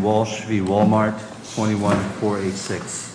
Walsh v. Walmart, 21486.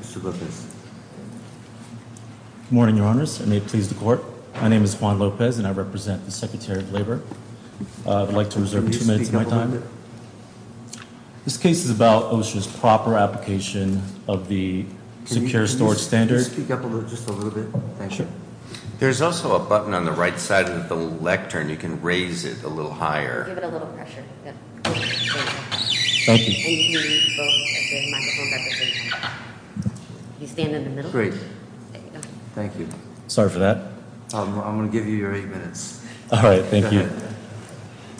Mr. Lopez. Good morning, Your Honors. I may please the court. My name is Juan Lopez and I represent the Secretary of Labor. I would like to reserve two minutes of my time. This case is about OSHA's proper application of the secure storage standard. Can you speak up just a little bit? There's also a button on the right side of the lectern. You can raise it a little higher. Give it a little pressure. Thank you. You stand in the middle. Great. Thank you. Sorry for that. I'm going to give you your eight minutes. All right. Thank you.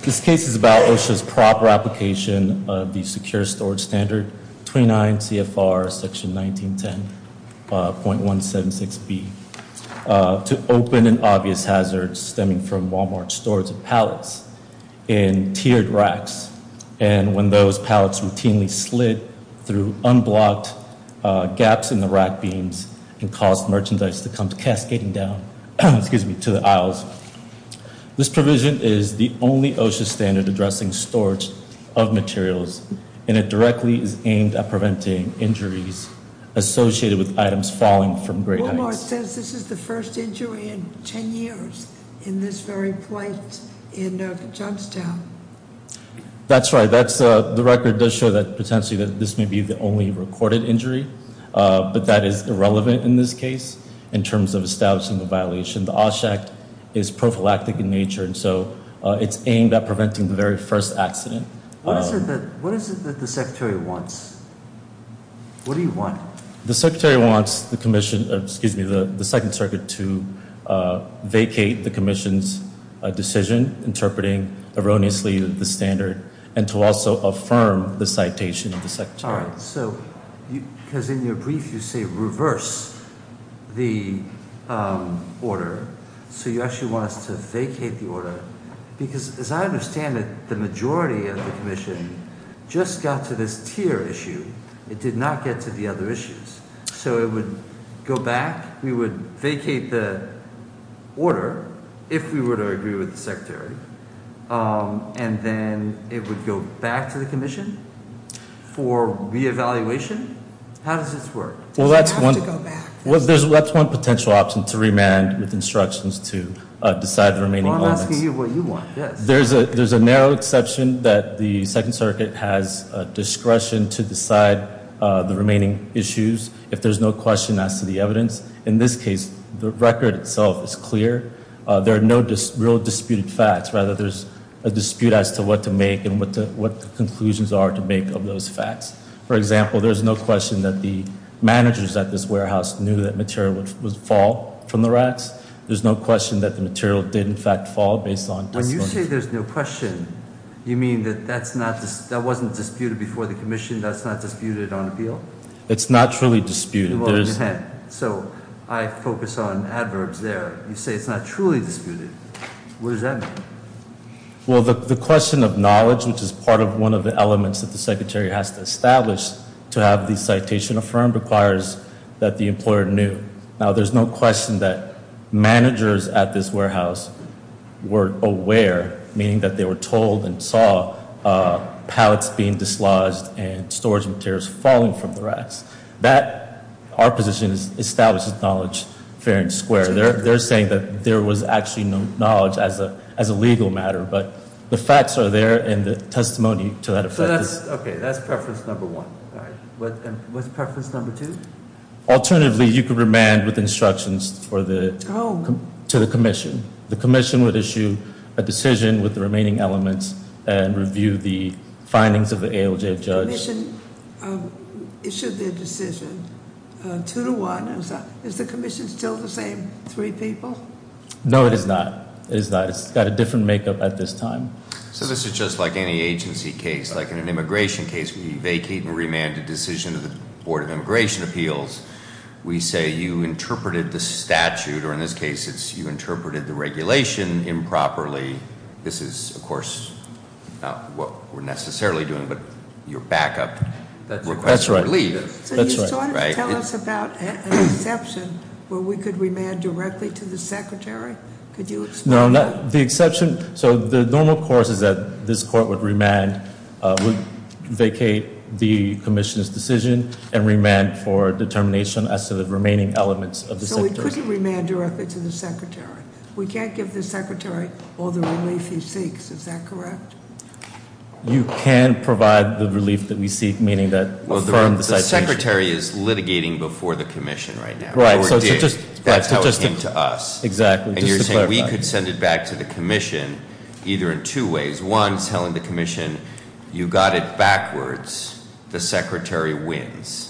This case is about OSHA's proper application of the secure storage standard, 29 CFR Section 1910.176B, to open an obvious hazard stemming from Walmart's storage of pallets in tiered racks, and when those pallets routinely slid through unblocked gaps in the rack beams and caused merchandise to come cascading down to the aisles. This provision is the only OSHA standard addressing storage of materials, and it directly is aimed at preventing injuries associated with items falling from great heights. Walmart says this is the first injury in ten years in this very plate in Jumpstown. That's right. The record does show that potentially this may be the only recorded injury, but that is irrelevant in this case in terms of establishing the violation. The OSHA act is prophylactic in nature, and so it's aimed at preventing the very first accident. What is it that the secretary wants? What do you want? The secretary wants the second circuit to vacate the commission's decision, interpreting erroneously the standard, and to also affirm the citation of the secretary. All right. So because in your brief you say reverse the order, so you actually want us to vacate the order? Because as I understand it, the majority of the commission just got to this tier issue. It did not get to the other issues. So it would go back. We would vacate the order if we were to agree with the secretary, and then it would go back to the commission for reevaluation? How does this work? Well, that's one potential option to remand with instructions to decide the remaining elements. Well, I'm asking you what you want. Yes. There's a narrow exception that the second circuit has discretion to decide the remaining issues. If there's no question as to the evidence. In this case, the record itself is clear. There are no real disputed facts. Rather, there's a dispute as to what to make and what the conclusions are to make of those facts. For example, there's no question that the managers at this warehouse knew that material would fall from the racks. There's no question that the material did, in fact, fall based on disclosure. When you say there's no question, you mean that that wasn't disputed before the commission? That's not disputed on appeal? It's not truly disputed. So I focus on adverbs there. You say it's not truly disputed. What does that mean? Well, the question of knowledge, which is part of one of the elements that the secretary has to establish to have the citation affirmed, requires that the employer knew. Now, there's no question that managers at this warehouse were aware, meaning that they were told and saw pallets being dislodged and storage materials falling from the racks. That, our position, establishes knowledge fair and square. They're saying that there was actually no knowledge as a legal matter, but the facts are there and the testimony to that effect is- Okay, that's preference number one. All right. What's preference number two? Alternatively, you could remand with instructions to the commission. The commission would issue a decision with the remaining elements and review the findings of the ALJ judge. The commission issued their decision. Two to one, is the commission still the same three people? No, it is not. It is not. It's got a different makeup at this time. So this is just like any agency case. Like in an immigration case, we vacate and remand a decision to the Board of Immigration Appeals. We say, you interpreted the statute, or in this case, you interpreted the regulation improperly. This is, of course, not what we're necessarily doing, but you're back up. That's right. So you sort of tell us about an exception where we could remand directly to the secretary? Could you explain that? No, the exception, so the normal course is that this court would remand, would vacate the commission's decision and remand for determination as to the remaining elements of the secretary. So we couldn't remand directly to the secretary. We can't give the secretary all the relief he seeks. Is that correct? You can provide the relief that we seek, meaning that- Well, the secretary is litigating before the commission right now. Right. That's how it came to us. Exactly. And you're saying we could send it back to the commission either in two ways. One, telling the commission, you got it backwards, the secretary wins.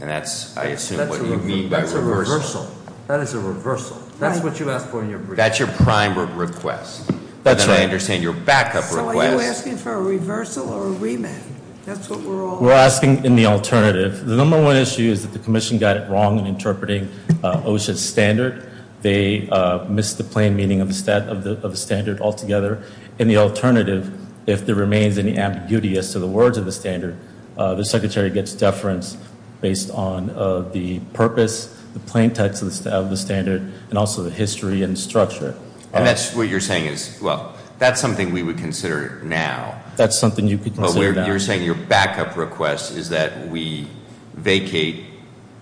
And that's, I assume, what you mean by reversal. That's a reversal. That is a reversal. That's what you asked for in your brief. That's your prime request. That's right. I understand your backup request. So are you asking for a reversal or a remand? That's what we're all- We're asking in the alternative. The number one issue is that the commission got it wrong in interpreting OSHA's standard. They missed the plain meaning of the standard altogether. In the alternative, if there remains any ambiguity as to the words of the standard, the secretary gets deference based on the purpose, the plain text of the standard, and also the history and structure. And that's what you're saying is, well, that's something we would consider now. That's something you could consider now. You're saying your backup request is that we vacate,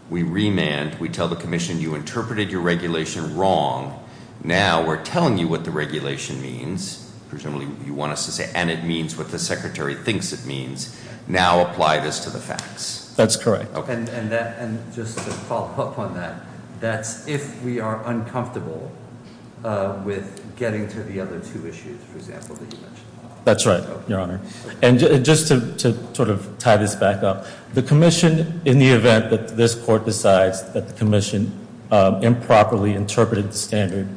we remand, we tell the commission you interpreted your regulation wrong. Now we're telling you what the regulation means. Presumably you want us to say, and it means what the secretary thinks it means. Now apply this to the facts. That's correct. And just to follow up on that, that's if we are uncomfortable with getting to the other two issues, for example, that you mentioned. That's right, Your Honor. And just to sort of tie this back up, the commission, in the event that this court decides that the commission improperly interpreted the standard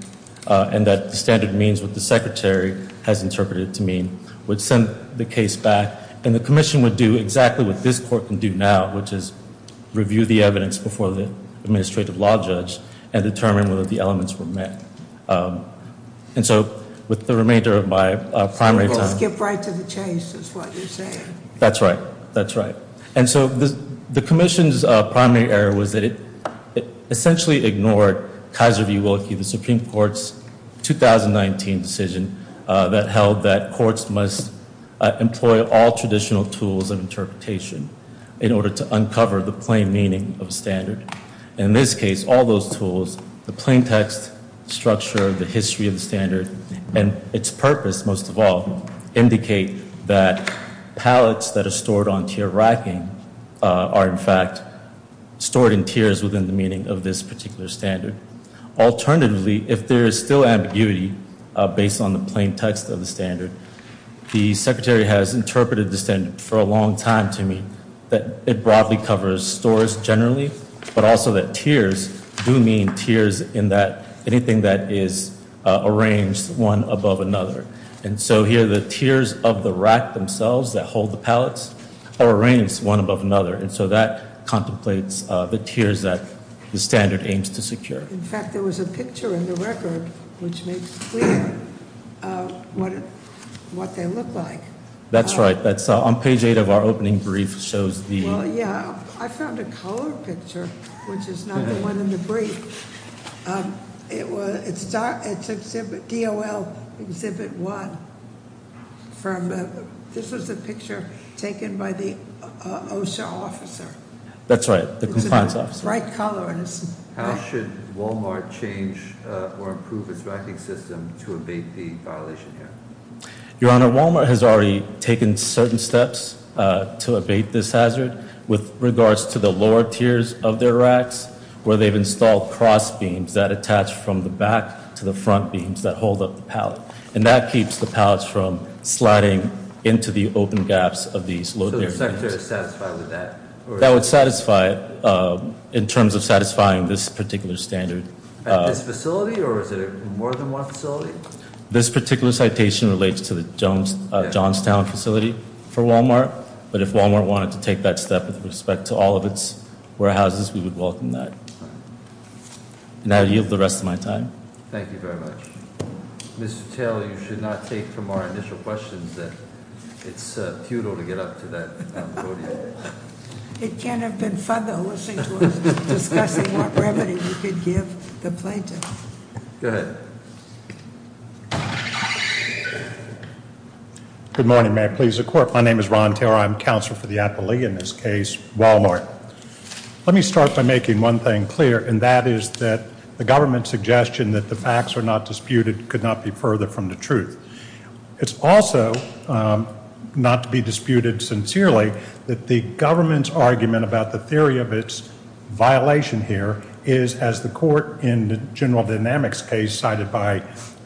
and that the standard means what the secretary has interpreted it to mean, would send the case back. And the commission would do exactly what this court can do now, which is review the evidence before the administrative law judge and determine whether the elements were met. And so with the remainder of my primary time. Skip right to the chase is what you're saying. That's right. That's right. And so the commission's primary error was that it essentially ignored Kaiser v. Willkie, the Supreme Court's 2019 decision that held that courts must employ all traditional tools of interpretation in order to uncover the plain meaning of standard. In this case, all those tools, the plain text structure, the history of the standard, and its purpose, most of all, indicate that pallets that are stored on tier racking are, in fact, stored in tiers within the meaning of this particular standard. Alternatively, if there is still ambiguity based on the plain text of the standard, the secretary has interpreted the standard for a long time to mean that it broadly covers stores generally, but also that tiers do mean tiers in that anything that is arranged one above another. And so here the tiers of the rack themselves that hold the pallets are arranged one above another. And so that contemplates the tiers that the standard aims to secure. In fact, there was a picture in the record which makes clear what they look like. That's right. That's on page eight of our opening brief shows the- Well, yeah, I found a colored picture, which is not the one in the brief. It's DOL Exhibit 1. This was a picture taken by the OSHA officer. That's right, the compliance officer. Bright color. How should Walmart change or improve its racking system to abate the violation here? Your Honor, Walmart has already taken certain steps to abate this hazard with regards to the lower tiers of their racks, where they've installed cross beams that attach from the back to the front beams that hold up the pallet. And that keeps the pallets from sliding into the open gaps of these low- So the secretary is satisfied with that? That would satisfy it in terms of satisfying this particular standard. At this facility, or is it at more than one facility? This particular citation relates to the Johnstown facility for Walmart. But if Walmart wanted to take that step with respect to all of its warehouses, we would welcome that. And I yield the rest of my time. Thank you very much. Mr. Taylor, you should not take from our initial questions that it's futile to get up to that podium. It can't have been fun though, listening to us discussing what remedy we could give the plaintiff. Go ahead. Good morning. May I please the court? My name is Ron Taylor. I'm counsel for the appellee in this case, Walmart. Let me start by making one thing clear, and that is that the government's suggestion that the facts are not disputed could not be further from the truth. It's also not to be disputed sincerely that the government's argument about the theory of its violation here is, as the court in the general dynamics case cited by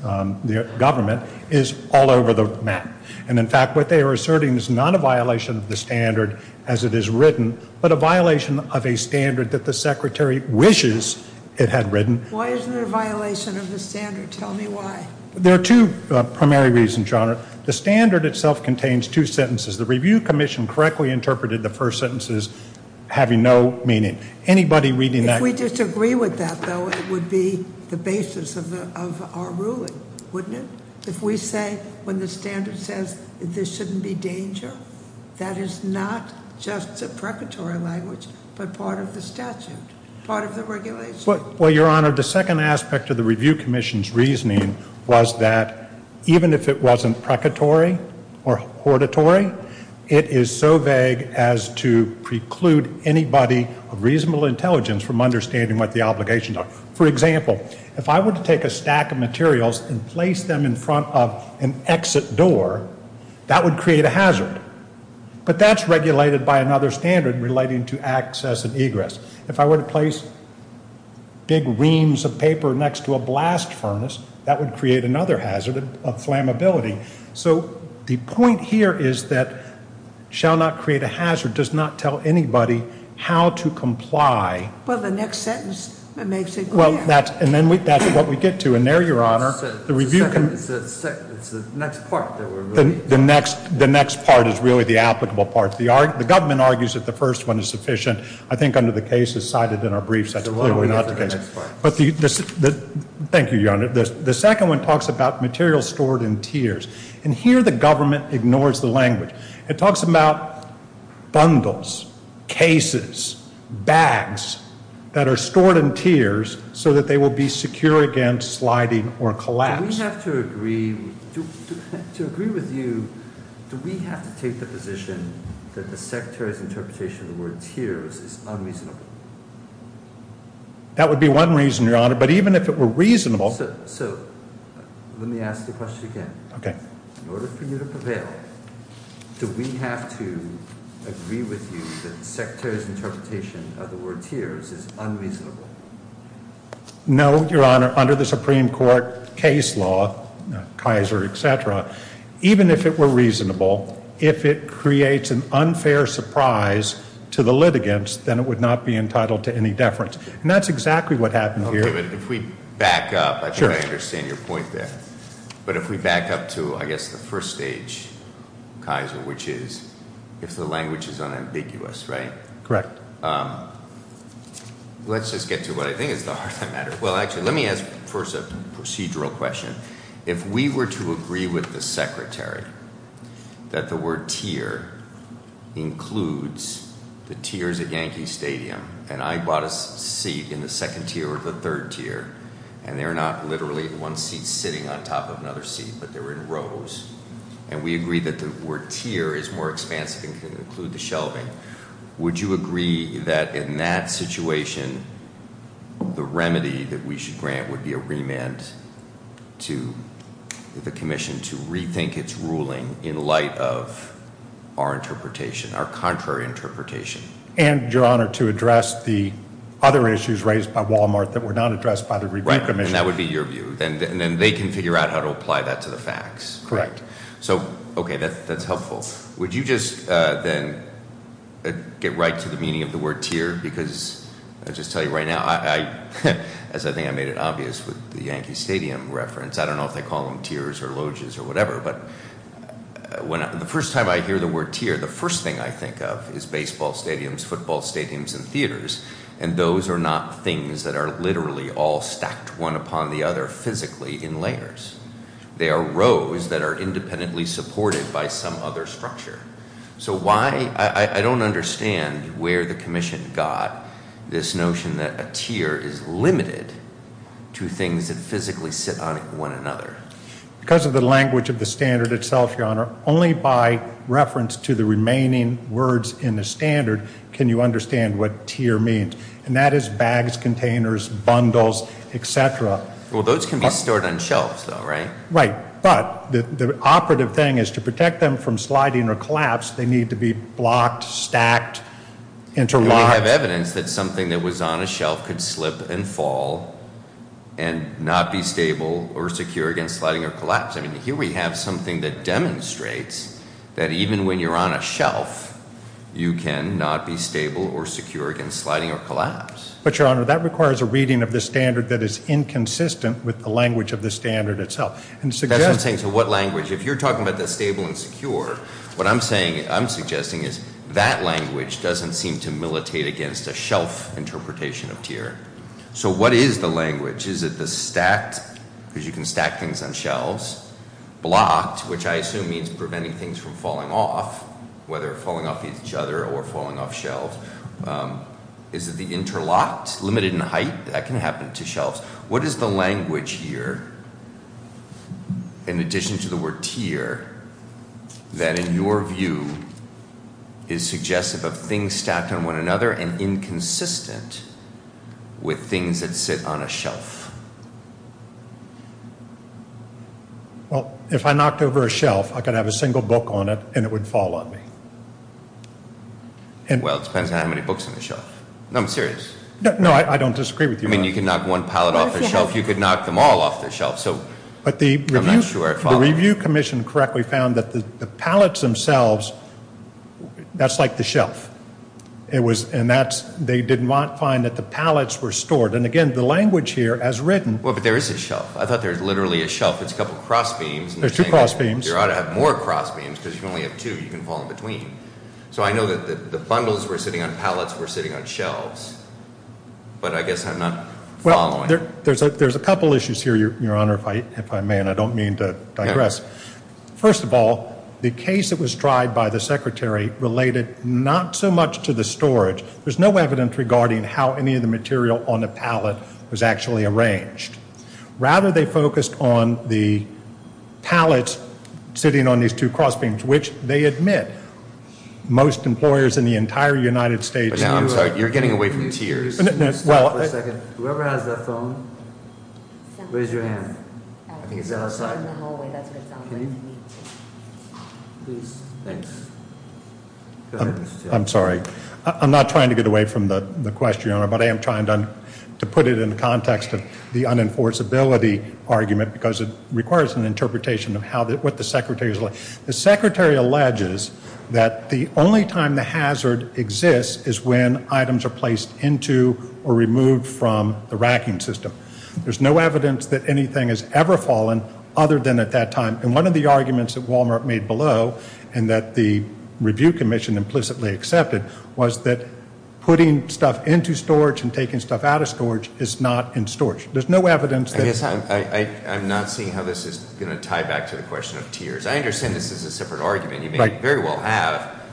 the government, is all over the map. And, in fact, what they are asserting is not a violation of the standard as it is written, but a violation of a standard that the secretary wishes it had written. Why is it a violation of the standard? Tell me why. There are two primary reasons, Your Honor. The standard itself contains two sentences. The review commission correctly interpreted the first sentences having no meaning. If we disagree with that, though, it would be the basis of our ruling, wouldn't it? If we say when the standard says there shouldn't be danger, that is not just a precatory language but part of the statute, part of the regulation. Well, Your Honor, the second aspect of the review commission's reasoning was that even if it wasn't precatory or hortatory, it is so vague as to preclude anybody of reasonable intelligence from understanding what the obligations are. For example, if I were to take a stack of materials and place them in front of an exit door, that would create a hazard. But that's regulated by another standard relating to access and egress. If I were to place big reams of paper next to a blast furnace, that would create another hazard of flammability. So the point here is that shall not create a hazard does not tell anybody how to comply. Well, the next sentence makes it clear. Well, that's what we get to. And there, Your Honor, the review commission... It's the next part that we're moving. The next part is really the applicable part. The government argues that the first one is sufficient. I think under the cases cited in our briefs, that's clearly not the case. So why don't we get to the next part? Thank you, Your Honor. The second one talks about materials stored in tiers. And here the government ignores the language. It talks about bundles, cases, bags that are stored in tiers so that they will be secure against sliding or collapse. Do we have to agree with you, do we have to take the position that the Secretary's interpretation of the word tiers is unreasonable? That would be one reason, Your Honor. But even if it were reasonable... So let me ask the question again. Okay. In order for you to prevail, do we have to agree with you that the Secretary's interpretation of the word tiers is unreasonable? No, Your Honor. Under the Supreme Court case law, Kaiser, et cetera, even if it were reasonable, if it creates an unfair surprise to the litigants, then it would not be entitled to any deference. And that's exactly what happened here. Okay, but if we back up, I'm sure I understand your point there. But if we back up to, I guess, the first stage, Kaiser, which is if the language is unambiguous, right? Correct. Let's just get to what I think is the heart of the matter. Well, actually, let me ask first a procedural question. If we were to agree with the Secretary that the word tier includes the tiers at Yankee Stadium, and I bought a seat in the second tier or the third tier, and they're not literally one seat sitting on top of another seat, but they're in rows, and we agree that the word tier is more expansive and can include the shelving, would you agree that in that situation the remedy that we should grant would be a remand to the commission to rethink its ruling in light of our interpretation, our contrary interpretation? And, Your Honor, to address the other issues raised by Walmart that were not addressed by the review commission. Right, and that would be your view. And then they can figure out how to apply that to the facts. Correct. So, okay, that's helpful. Would you just then get right to the meaning of the word tier? Because I'll just tell you right now, as I think I made it obvious with the Yankee Stadium reference, I don't know if they call them tiers or loges or whatever, but the first time I hear the word tier, the first thing I think of is baseball stadiums, football stadiums, and theaters, and those are not things that are literally all stacked one upon the other physically in layers. They are rows that are independently supported by some other structure. So why? I don't understand where the commission got this notion that a tier is limited to things that physically sit on one another. Because of the language of the standard itself, Your Honor, only by reference to the remaining words in the standard can you understand what tier means, and that is bags, containers, bundles, et cetera. Well, those can be stored on shelves, though, right? Right. But the operative thing is to protect them from sliding or collapse, they need to be blocked, stacked, interlocked. We have evidence that something that was on a shelf could slip and fall and not be stable or secure against sliding or collapse. I mean, here we have something that demonstrates that even when you're on a shelf, But, Your Honor, that requires a reading of the standard that is inconsistent with the language of the standard itself. That's what I'm saying. So what language? If you're talking about the stable and secure, what I'm saying, I'm suggesting, is that language doesn't seem to militate against a shelf interpretation of tier. So what is the language? Is it the stacked, because you can stack things on shelves, blocked, which I assume means preventing things from falling off, whether falling off each other or falling off shelves? Is it the interlocked, limited in height? That can happen to shelves. What is the language here, in addition to the word tier, that in your view is suggestive of things stacked on one another and inconsistent with things that sit on a shelf? Well, if I knocked over a shelf, I could have a single book on it and it would fall on me. Well, it depends on how many books are on the shelf. No, I'm serious. No, I don't disagree with you. I mean, you can knock one pallet off the shelf. You could knock them all off the shelf. But the review commission correctly found that the pallets themselves, that's like the shelf. And they did not find that the pallets were stored. And, again, the language here, as written, Well, but there is a shelf. I thought there was literally a shelf. It's a couple cross beams. There's two cross beams. You ought to have more cross beams because you only have two. You can fall in between. So I know that the bundles were sitting on pallets were sitting on shelves. But I guess I'm not following. Well, there's a couple issues here, Your Honor, if I may, and I don't mean to digress. First of all, the case that was tried by the secretary related not so much to the storage. There's no evidence regarding how any of the material on the pallet was actually arranged. Rather, they focused on the pallets sitting on these two cross beams, which they admit most employers in the entire United States do. I'm sorry. You're getting away from tears. Stop for a second. Whoever has the phone, raise your hand. I think it's outside. Can you? Please. I'm sorry. I'm not trying to get away from the question, Your Honor. But I am trying to put it in the context of the unenforceability argument because it requires an interpretation of what the secretary is like. The secretary alleges that the only time the hazard exists is when items are placed into or removed from the racking system. There's no evidence that anything has ever fallen other than at that time. And one of the arguments that Walmart made below and that the review commission implicitly accepted was that putting stuff into storage and taking stuff out of storage is not in storage. There's no evidence. I'm not seeing how this is going to tie back to the question of tears. I understand this is a separate argument. You may very well have.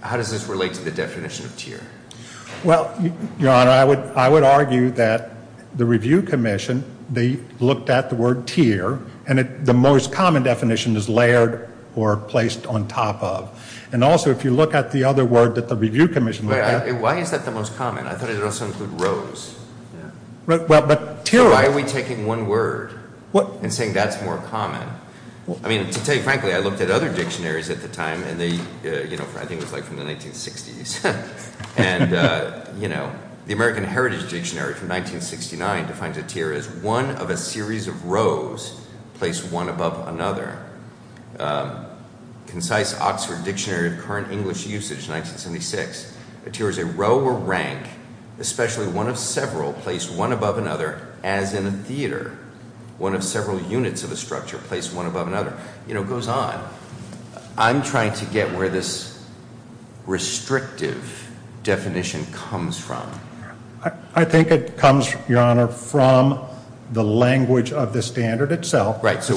How does this relate to the definition of tear? Well, Your Honor, I would argue that the review commission, they looked at the word tear, and the most common definition is layered or placed on top of. And also, if you look at the other word that the review commission looked at. Why is that the most common? I thought it would also include rose. Why are we taking one word and saying that's more common? I mean, to tell you frankly, I looked at other dictionaries at the time, and they, you know, I think it was like from the 1960s. And, you know, the American Heritage Dictionary from 1969 defines a tear as one of a series of rows placed one above another. Concise Oxford Dictionary of Current English Usage, 1976. A tear is a row or rank, especially one of several, placed one above another, as in a theater. One of several units of a structure placed one above another. You know, it goes on. I'm trying to get where this restrictive definition comes from. I think it comes, Your Honor, from the language of the standard itself. Right, so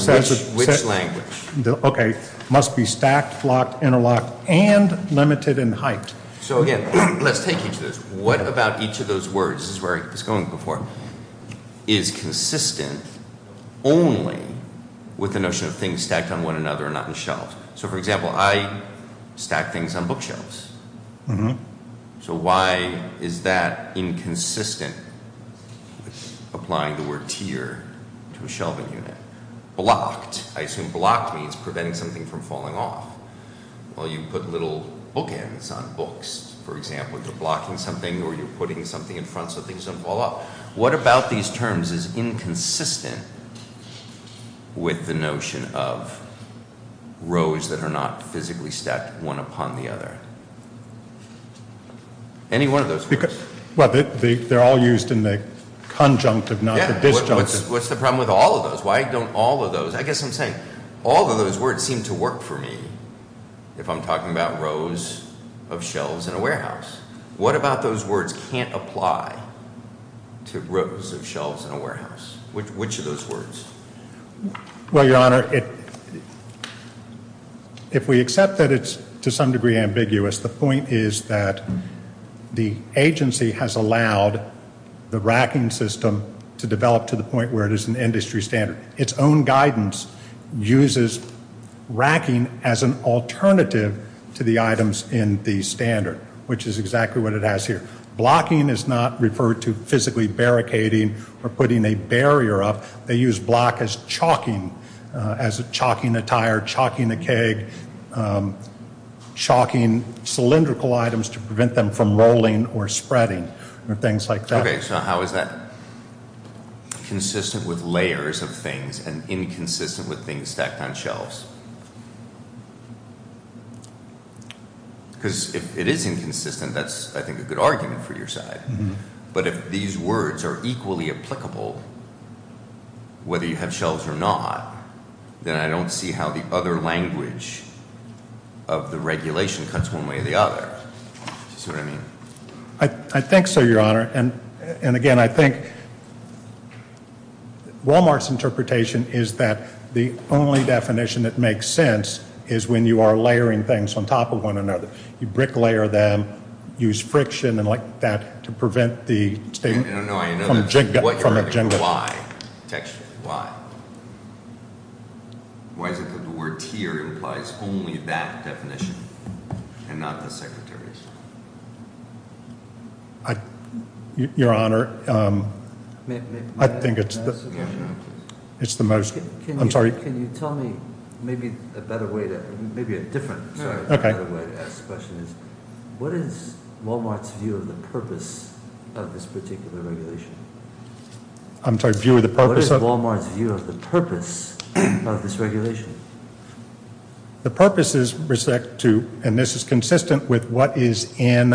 which language? Okay, must be stacked, flocked, interlocked, and limited in height. So, again, let's take each of those. What about each of those words? This is where I was going before. Is consistent only with the notion of things stacked on one another and not in shelves. So, for example, I stack things on bookshelves. So why is that inconsistent with applying the word tear to a shelving unit? Blocked. I assume blocked means preventing something from falling off. Well, you put little bookends on books. For example, you're blocking something or you're putting something in front so things don't fall off. What about these terms is inconsistent with the notion of rows that are not physically stacked one upon the other? Any one of those words. Well, they're all used in the conjunctive, not the disjunct. Yeah, what's the problem with all of those? I guess I'm saying all of those words seem to work for me if I'm talking about rows of shelves in a warehouse. What about those words can't apply to rows of shelves in a warehouse? Which of those words? Well, Your Honor, if we accept that it's to some degree ambiguous, the point is that the agency has allowed the racking system to develop to the point where it is an industry standard. Its own guidance uses racking as an alternative to the items in the standard, which is exactly what it has here. Blocking is not referred to physically barricading or putting a barrier up. They use block as chalking, as chalking a tire, chalking a keg, chalking cylindrical items to prevent them from rolling or spreading or things like that. Okay, so how is that consistent with layers of things and inconsistent with things stacked on shelves? Because if it is inconsistent, that's, I think, a good argument for your side. But if these words are equally applicable, whether you have shelves or not, then I don't see how the other language of the regulation cuts one way or the other. Do you see what I mean? I think so, Your Honor. And again, I think Wal-Mart's interpretation is that the only definition that makes sense is when you are layering things on top of one another. You brick layer them, use friction and like that to prevent the state from jiggling. Why? Why is it that the word tier implies only that definition and not the secretaries? Your Honor, I think it's the most. I'm sorry. Can you tell me maybe a better way to, maybe a different, sorry, a better way to ask the question is, what is Wal-Mart's view of the purpose of this particular regulation? I'm sorry, view of the purpose? What is Wal-Mart's view of the purpose of this regulation? The purpose is respect to, and this is consistent with what is in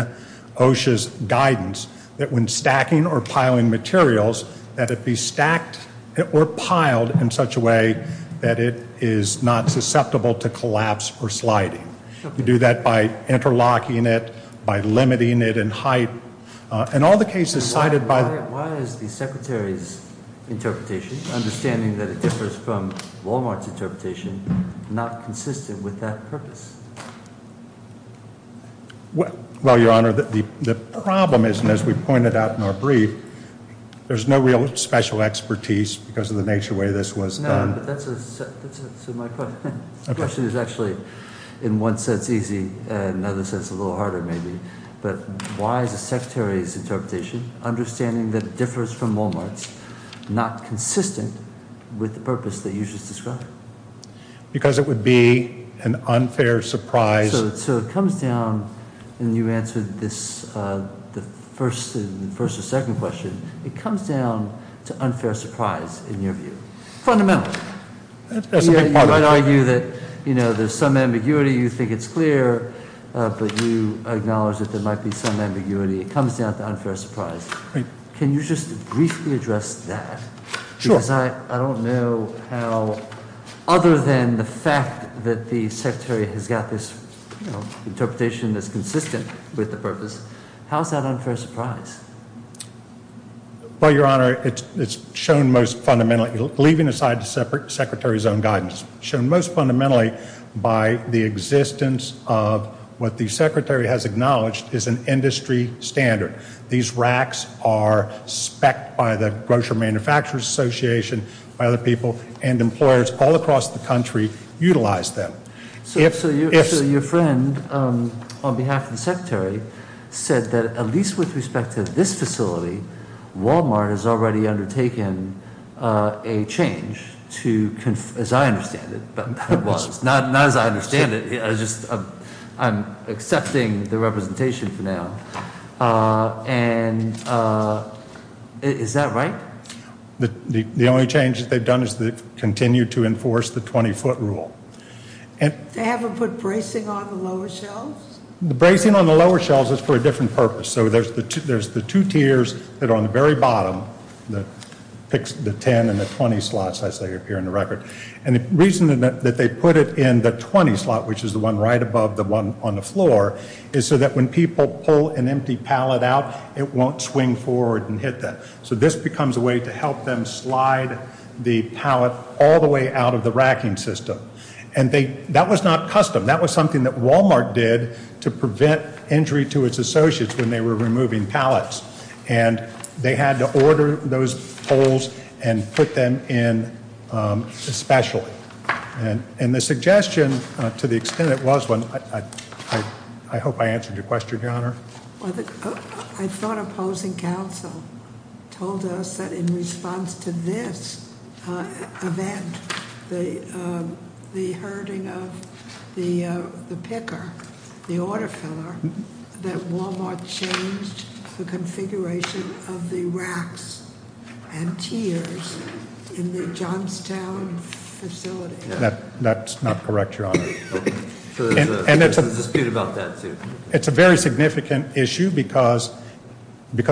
OSHA's guidance, that when stacking or piling materials, that it be stacked or piled in such a way that it is not susceptible to collapse or sliding. You do that by interlocking it, by limiting it in height, and all the cases cited by. Why is the secretary's interpretation, understanding that it differs from Wal-Mart's interpretation, not consistent with that purpose? Well, Your Honor, the problem is, and as we pointed out in our brief, there's no real special expertise because of the nature of the way this was done. No, but that's a, so my question is actually in one sense easy, in another sense a little harder maybe. But why is the secretary's interpretation, understanding that it differs from Wal-Mart's, not consistent with the purpose that you just described? Because it would be an unfair surprise. So it comes down, and you answered the first and second question, it comes down to unfair surprise in your view, fundamental. That's a big part of it. You might argue that there's some ambiguity, you think it's clear, but you acknowledge that there might be some ambiguity. It comes down to unfair surprise. Right. Can you just briefly address that? Sure. Because I don't know how, other than the fact that the secretary has got this interpretation that's consistent with the purpose, how is that unfair surprise? Well, Your Honor, it's shown most fundamentally, leaving aside the secretary's own guidance, shown most fundamentally by the existence of what the secretary has acknowledged is an industry standard. These racks are specced by the Grocery Manufacturers Association, by other people, and employers all across the country utilize them. So your friend, on behalf of the secretary, said that at least with respect to this facility, Wal-Mart has already undertaken a change to, as I understand it, not as I understand it, I'm accepting the representation for now. And is that right? The only change that they've done is they've continued to enforce the 20-foot rule. They haven't put bracing on the lower shelves? The bracing on the lower shelves is for a different purpose. So there's the two tiers that are on the very bottom, the 10 and the 20 slots, as they appear in the record. And the reason that they put it in the 20 slot, which is the one right above the one on the floor, is so that when people pull an empty pallet out, it won't swing forward and hit them. So this becomes a way to help them slide the pallet all the way out of the racking system. And that was not custom. That was something that Wal-Mart did to prevent injury to its associates when they were removing pallets. And they had to order those poles and put them in especially. And the suggestion, to the extent it was one, I hope I answered your question, Your Honor. I thought opposing counsel told us that in response to this event, the hurting of the picker, the order filler, that Wal-Mart changed the configuration of the racks and tiers in the Johnstown facility. That's not correct, Your Honor. There's a dispute about that, too. It's a very significant issue because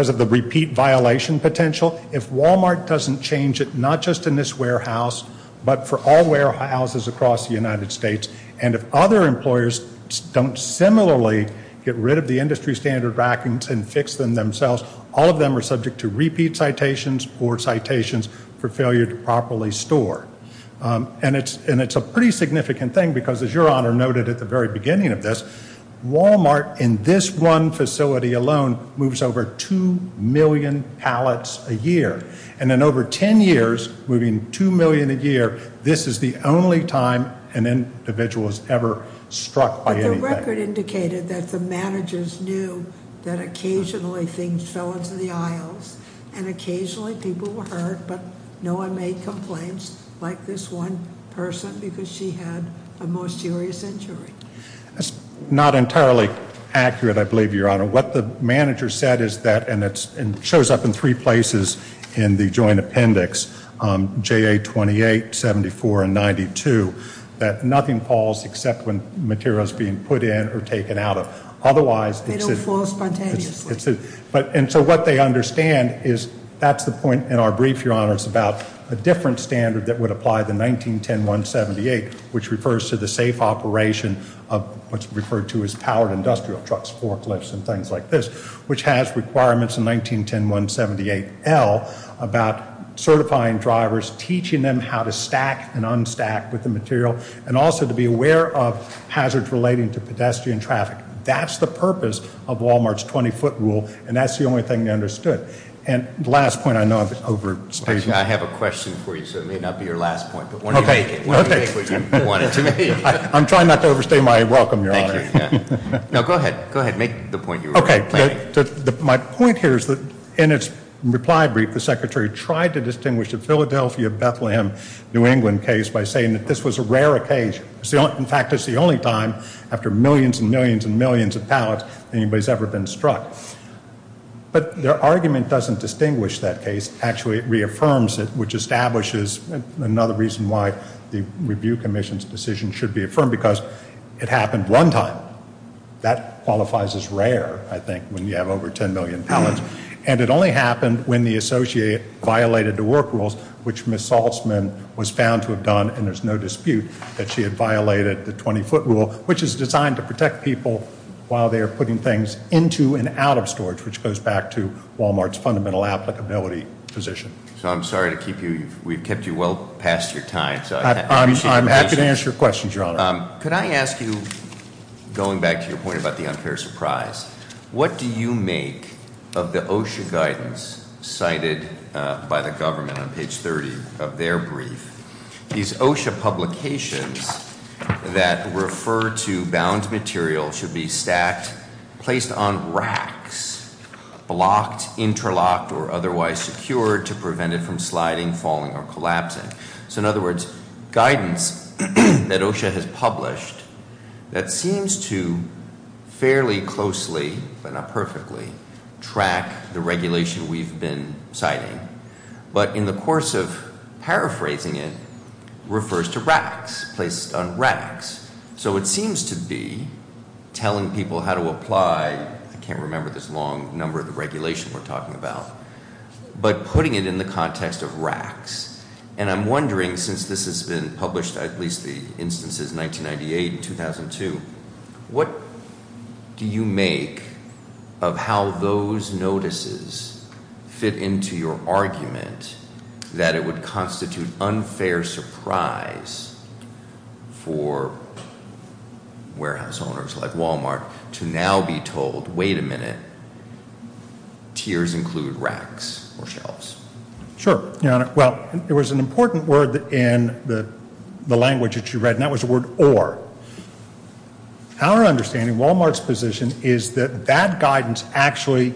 of the repeat violation potential. If Wal-Mart doesn't change it, not just in this warehouse, but for all warehouses across the United States, and if other employers don't similarly get rid of the industry standard rackings and fix them themselves, all of them are subject to repeat citations or citations for failure to properly store. And it's a pretty significant thing because, as Your Honor noted at the very beginning of this, Wal-Mart in this one facility alone moves over 2 million pallets a year. And in over 10 years, moving 2 million a year, this is the only time an individual has ever struck by anything. But the record indicated that the managers knew that occasionally things fell into the aisles, and occasionally people were hurt, but no one made complaints like this one person because she had a more serious injury. That's not entirely accurate, I believe, Your Honor. What the manager said is that, and it shows up in three places in the joint appendix, JA 28, 74, and 92, that nothing falls except when material is being put in or taken out of. They don't fall spontaneously. And so what they understand is that's the point in our brief, Your Honor, it's about a different standard that would apply the 1910-178, which refers to the safe operation of what's referred to as powered industrial trucks, forklifts, and things like this, which has requirements in 1910-178L about certifying drivers, teaching them how to stack and unstack with the material, and also to be aware of hazards relating to pedestrian traffic. That's the purpose of Walmart's 20-foot rule, and that's the only thing they understood. And the last point I know I've overstated. Actually, I have a question for you, so it may not be your last point. Okay. What do you think you wanted to make? I'm trying not to overstay my welcome, Your Honor. Thank you. Now, go ahead. Go ahead. Make the point you were planning. Okay. My point here is that in its reply brief, the Secretary tried to distinguish the Philadelphia-Bethlehem-New England case by saying that this was a rare occasion. In fact, it's the only time after millions and millions and millions of pallets anybody's ever been struck. But their argument doesn't distinguish that case. Actually, it reaffirms it, which establishes another reason why the Review Commission's decision should be affirmed, because it happened one time. That qualifies as rare, I think, when you have over 10 million pallets. And it only happened when the associate violated the work rules, which Ms. Saltzman was found to have done, and there's no dispute that she had violated the 20-foot rule, which is designed to protect people while they are putting things into and out of storage, which goes back to Walmart's fundamental applicability position. So I'm sorry to keep you. We've kept you well past your time. I'm happy to answer your questions, Your Honor. Could I ask you, going back to your point about the unfair surprise, what do you make of the OSHA guidance cited by the government on page 30 of their brief? These OSHA publications that refer to bound material should be stacked, placed on racks, blocked, interlocked, or otherwise secured to prevent it from sliding, falling, or collapsing. So in other words, guidance that OSHA has published that seems to fairly closely, but not perfectly, track the regulation we've been citing. But in the course of paraphrasing it, refers to racks, placed on racks. So it seems to be telling people how to apply, I can't remember this long, number of the regulation we're talking about, but putting it in the context of racks. And I'm wondering, since this has been published, at least the instances 1998 and 2002, what do you make of how those notices fit into your argument that it would constitute unfair surprise for warehouse owners like Walmart to now be told, wait a minute, tiers include racks or shelves? Sure, Your Honor. Well, there was an important word in the language that you read, and that was the word or. Our understanding, Walmart's position, is that that guidance actually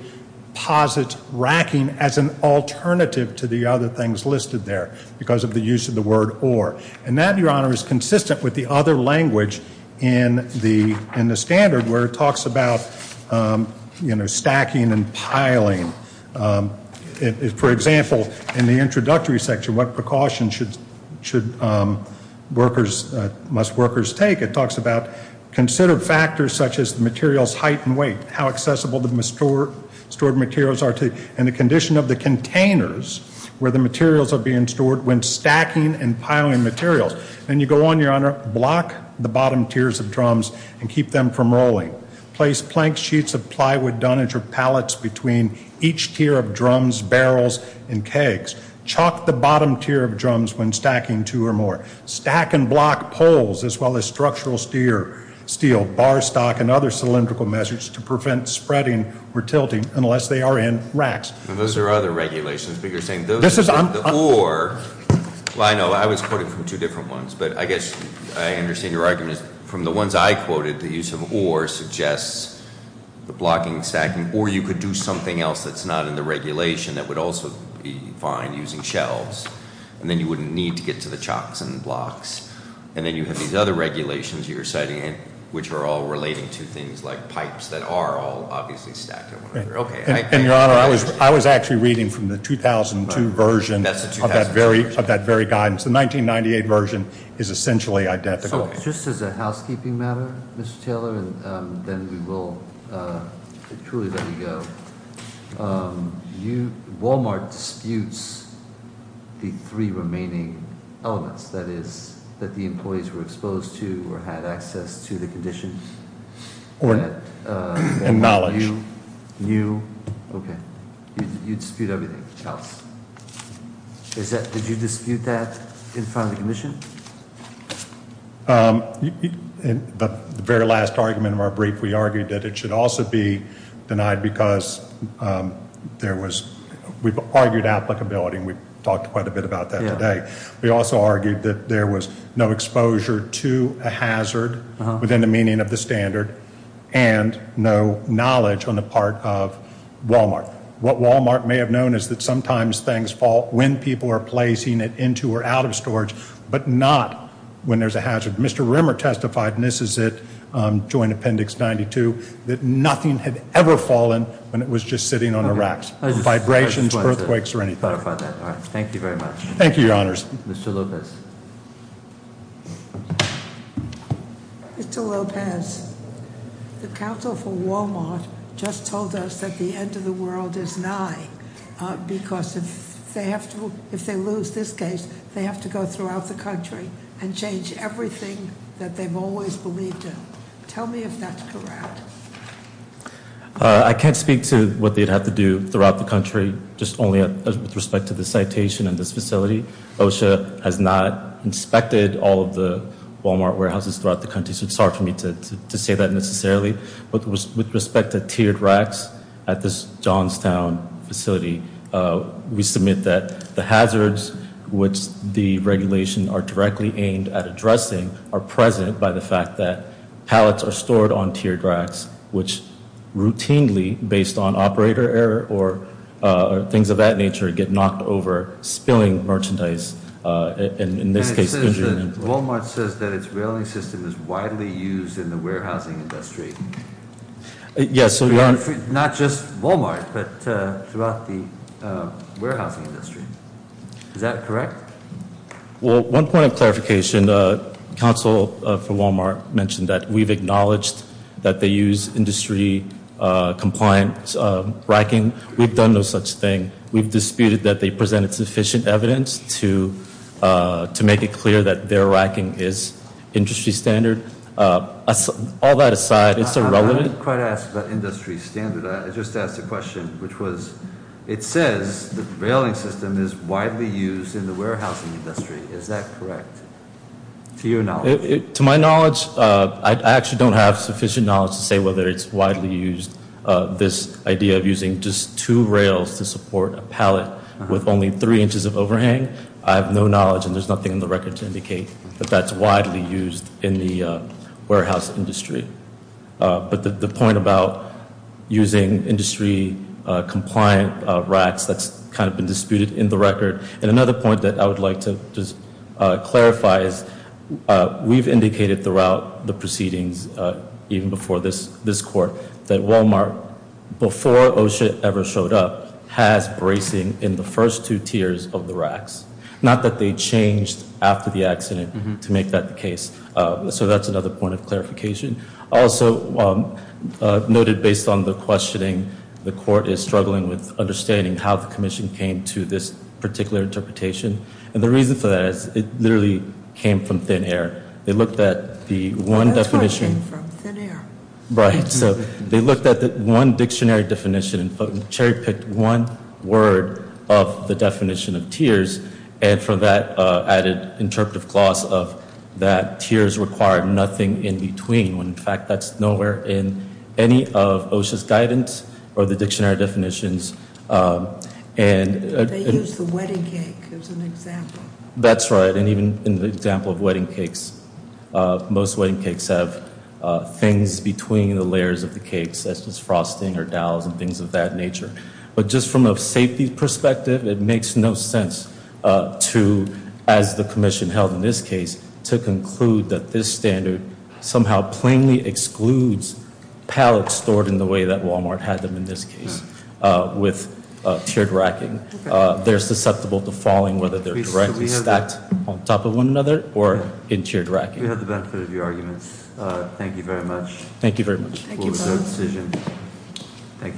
posits racking as an alternative to the other things listed there because of the use of the word or. And that, Your Honor, is consistent with the other language in the standard where it talks about stacking and piling. For example, in the introductory section, what precautions should workers, must workers take, it talks about considered factors such as the material's height and weight, how accessible the stored materials are to, and the condition of the containers where the materials are being stored when stacking and piling materials. And you go on, Your Honor, block the bottom tiers of drums and keep them from rolling. Place plank sheets of plywood, dunnage, or pallets between each tier of drums, barrels, and kegs. Chalk the bottom tier of drums when stacking two or more. Stack and block poles as well as structural steel, bar stock, and other cylindrical measures to prevent spreading or tilting unless they are in racks. Those are other regulations, but you're saying those are the or. Well, I know, I was quoted from two different ones, but I guess I understand your argument. From the ones I quoted, the use of or suggests the blocking and stacking, or you could do something else that's not in the regulation that would also be fine, using shelves. And then you wouldn't need to get to the chalks and blocks. And then you have these other regulations you're citing, which are all relating to things like pipes that are all obviously stacked. And, Your Honor, I was actually reading from the 2002 version of that very guidance. The 1998 version is essentially identical. Just as a housekeeping matter, Mr. Taylor, and then we will truly let you go. Wal-Mart disputes the three remaining elements, that is, that the employees were exposed to or had access to the conditions. Or that Wal-Mart knew. Okay. You dispute everything else. Did you dispute that in front of the commission? The very last argument of our brief, we argued that it should also be denied because there was, we've argued applicability. We've talked quite a bit about that today. We also argued that there was no exposure to a hazard within the meaning of the standard and no knowledge on the part of Wal-Mart. What Wal-Mart may have known is that sometimes things fall when people are placing it into or out of storage. But not when there's a hazard. Mr. Rimmer testified, and this is it, Joint Appendix 92, that nothing had ever fallen when it was just sitting on the racks. Vibrations, earthquakes, or anything. Thank you very much. Thank you, Your Honors. Mr. Lopez. Mr. Lopez, the counsel for Wal-Mart just told us that the end of the world is nigh. Because if they lose this case, they have to go throughout the country and change everything that they've always believed in. Tell me if that's correct. I can't speak to what they'd have to do throughout the country, just only with respect to the citation and this facility. OSHA has not inspected all of the Wal-Mart warehouses throughout the country, so it's hard for me to say that necessarily. But with respect to tiered racks at this Johnstown facility, we submit that the hazards, which the regulation are directly aimed at addressing, are present by the fact that pallets are stored on tiered racks, which routinely, based on operator error or things of that nature, get knocked over, spilling merchandise, and in this case, injuring employees. Wal-Mart says that its railing system is widely used in the warehousing industry. Yes. Not just Wal-Mart, but throughout the warehousing industry. Is that correct? Well, one point of clarification. Council for Wal-Mart mentioned that we've acknowledged that they use industry-compliant racking. We've done no such thing. We've disputed that they presented sufficient evidence to make it clear that their racking is industry standard. All that aside, it's irrelevant. I didn't quite ask about industry standard. I just asked a question, which was it says the railing system is widely used in the warehousing industry. Is that correct? To your knowledge. To my knowledge, I actually don't have sufficient knowledge to say whether it's widely used, this idea of using just two rails to support a pallet with only three inches of overhang. I have no knowledge, and there's nothing in the record to indicate that that's widely used in the warehouse industry. But the point about using industry-compliant racks, that's kind of been disputed in the record. And another point that I would like to just clarify is we've indicated throughout the proceedings, even before this court, that Wal-Mart, before OSHA ever showed up, has bracing in the first two tiers of the racks. Not that they changed after the accident to make that the case. So that's another point of clarification. Also noted based on the questioning, the court is struggling with understanding how the commission came to this particular interpretation. And the reason for that is it literally came from thin air. They looked at the one definition. That's what came from, thin air. Right. So they looked at the one dictionary definition and cherry-picked one word of the definition of tiers, and for that added interpretive clause of that tiers require nothing in between, when in fact that's nowhere in any of OSHA's guidance or the dictionary definitions. They used the wedding cake as an example. That's right. And even in the example of wedding cakes, most wedding cakes have things between the layers of the cakes, such as frosting or dowels and things of that nature. But just from a safety perspective, it makes no sense to, as the commission held in this case, to conclude that this standard somehow plainly excludes pallets stored in the way that Walmart had them in this case with tiered racking. They're susceptible to falling, whether they're directly stacked on top of one another or in tiered racking. We have the benefit of your arguments. Thank you very much. Thank you very much. Thank you.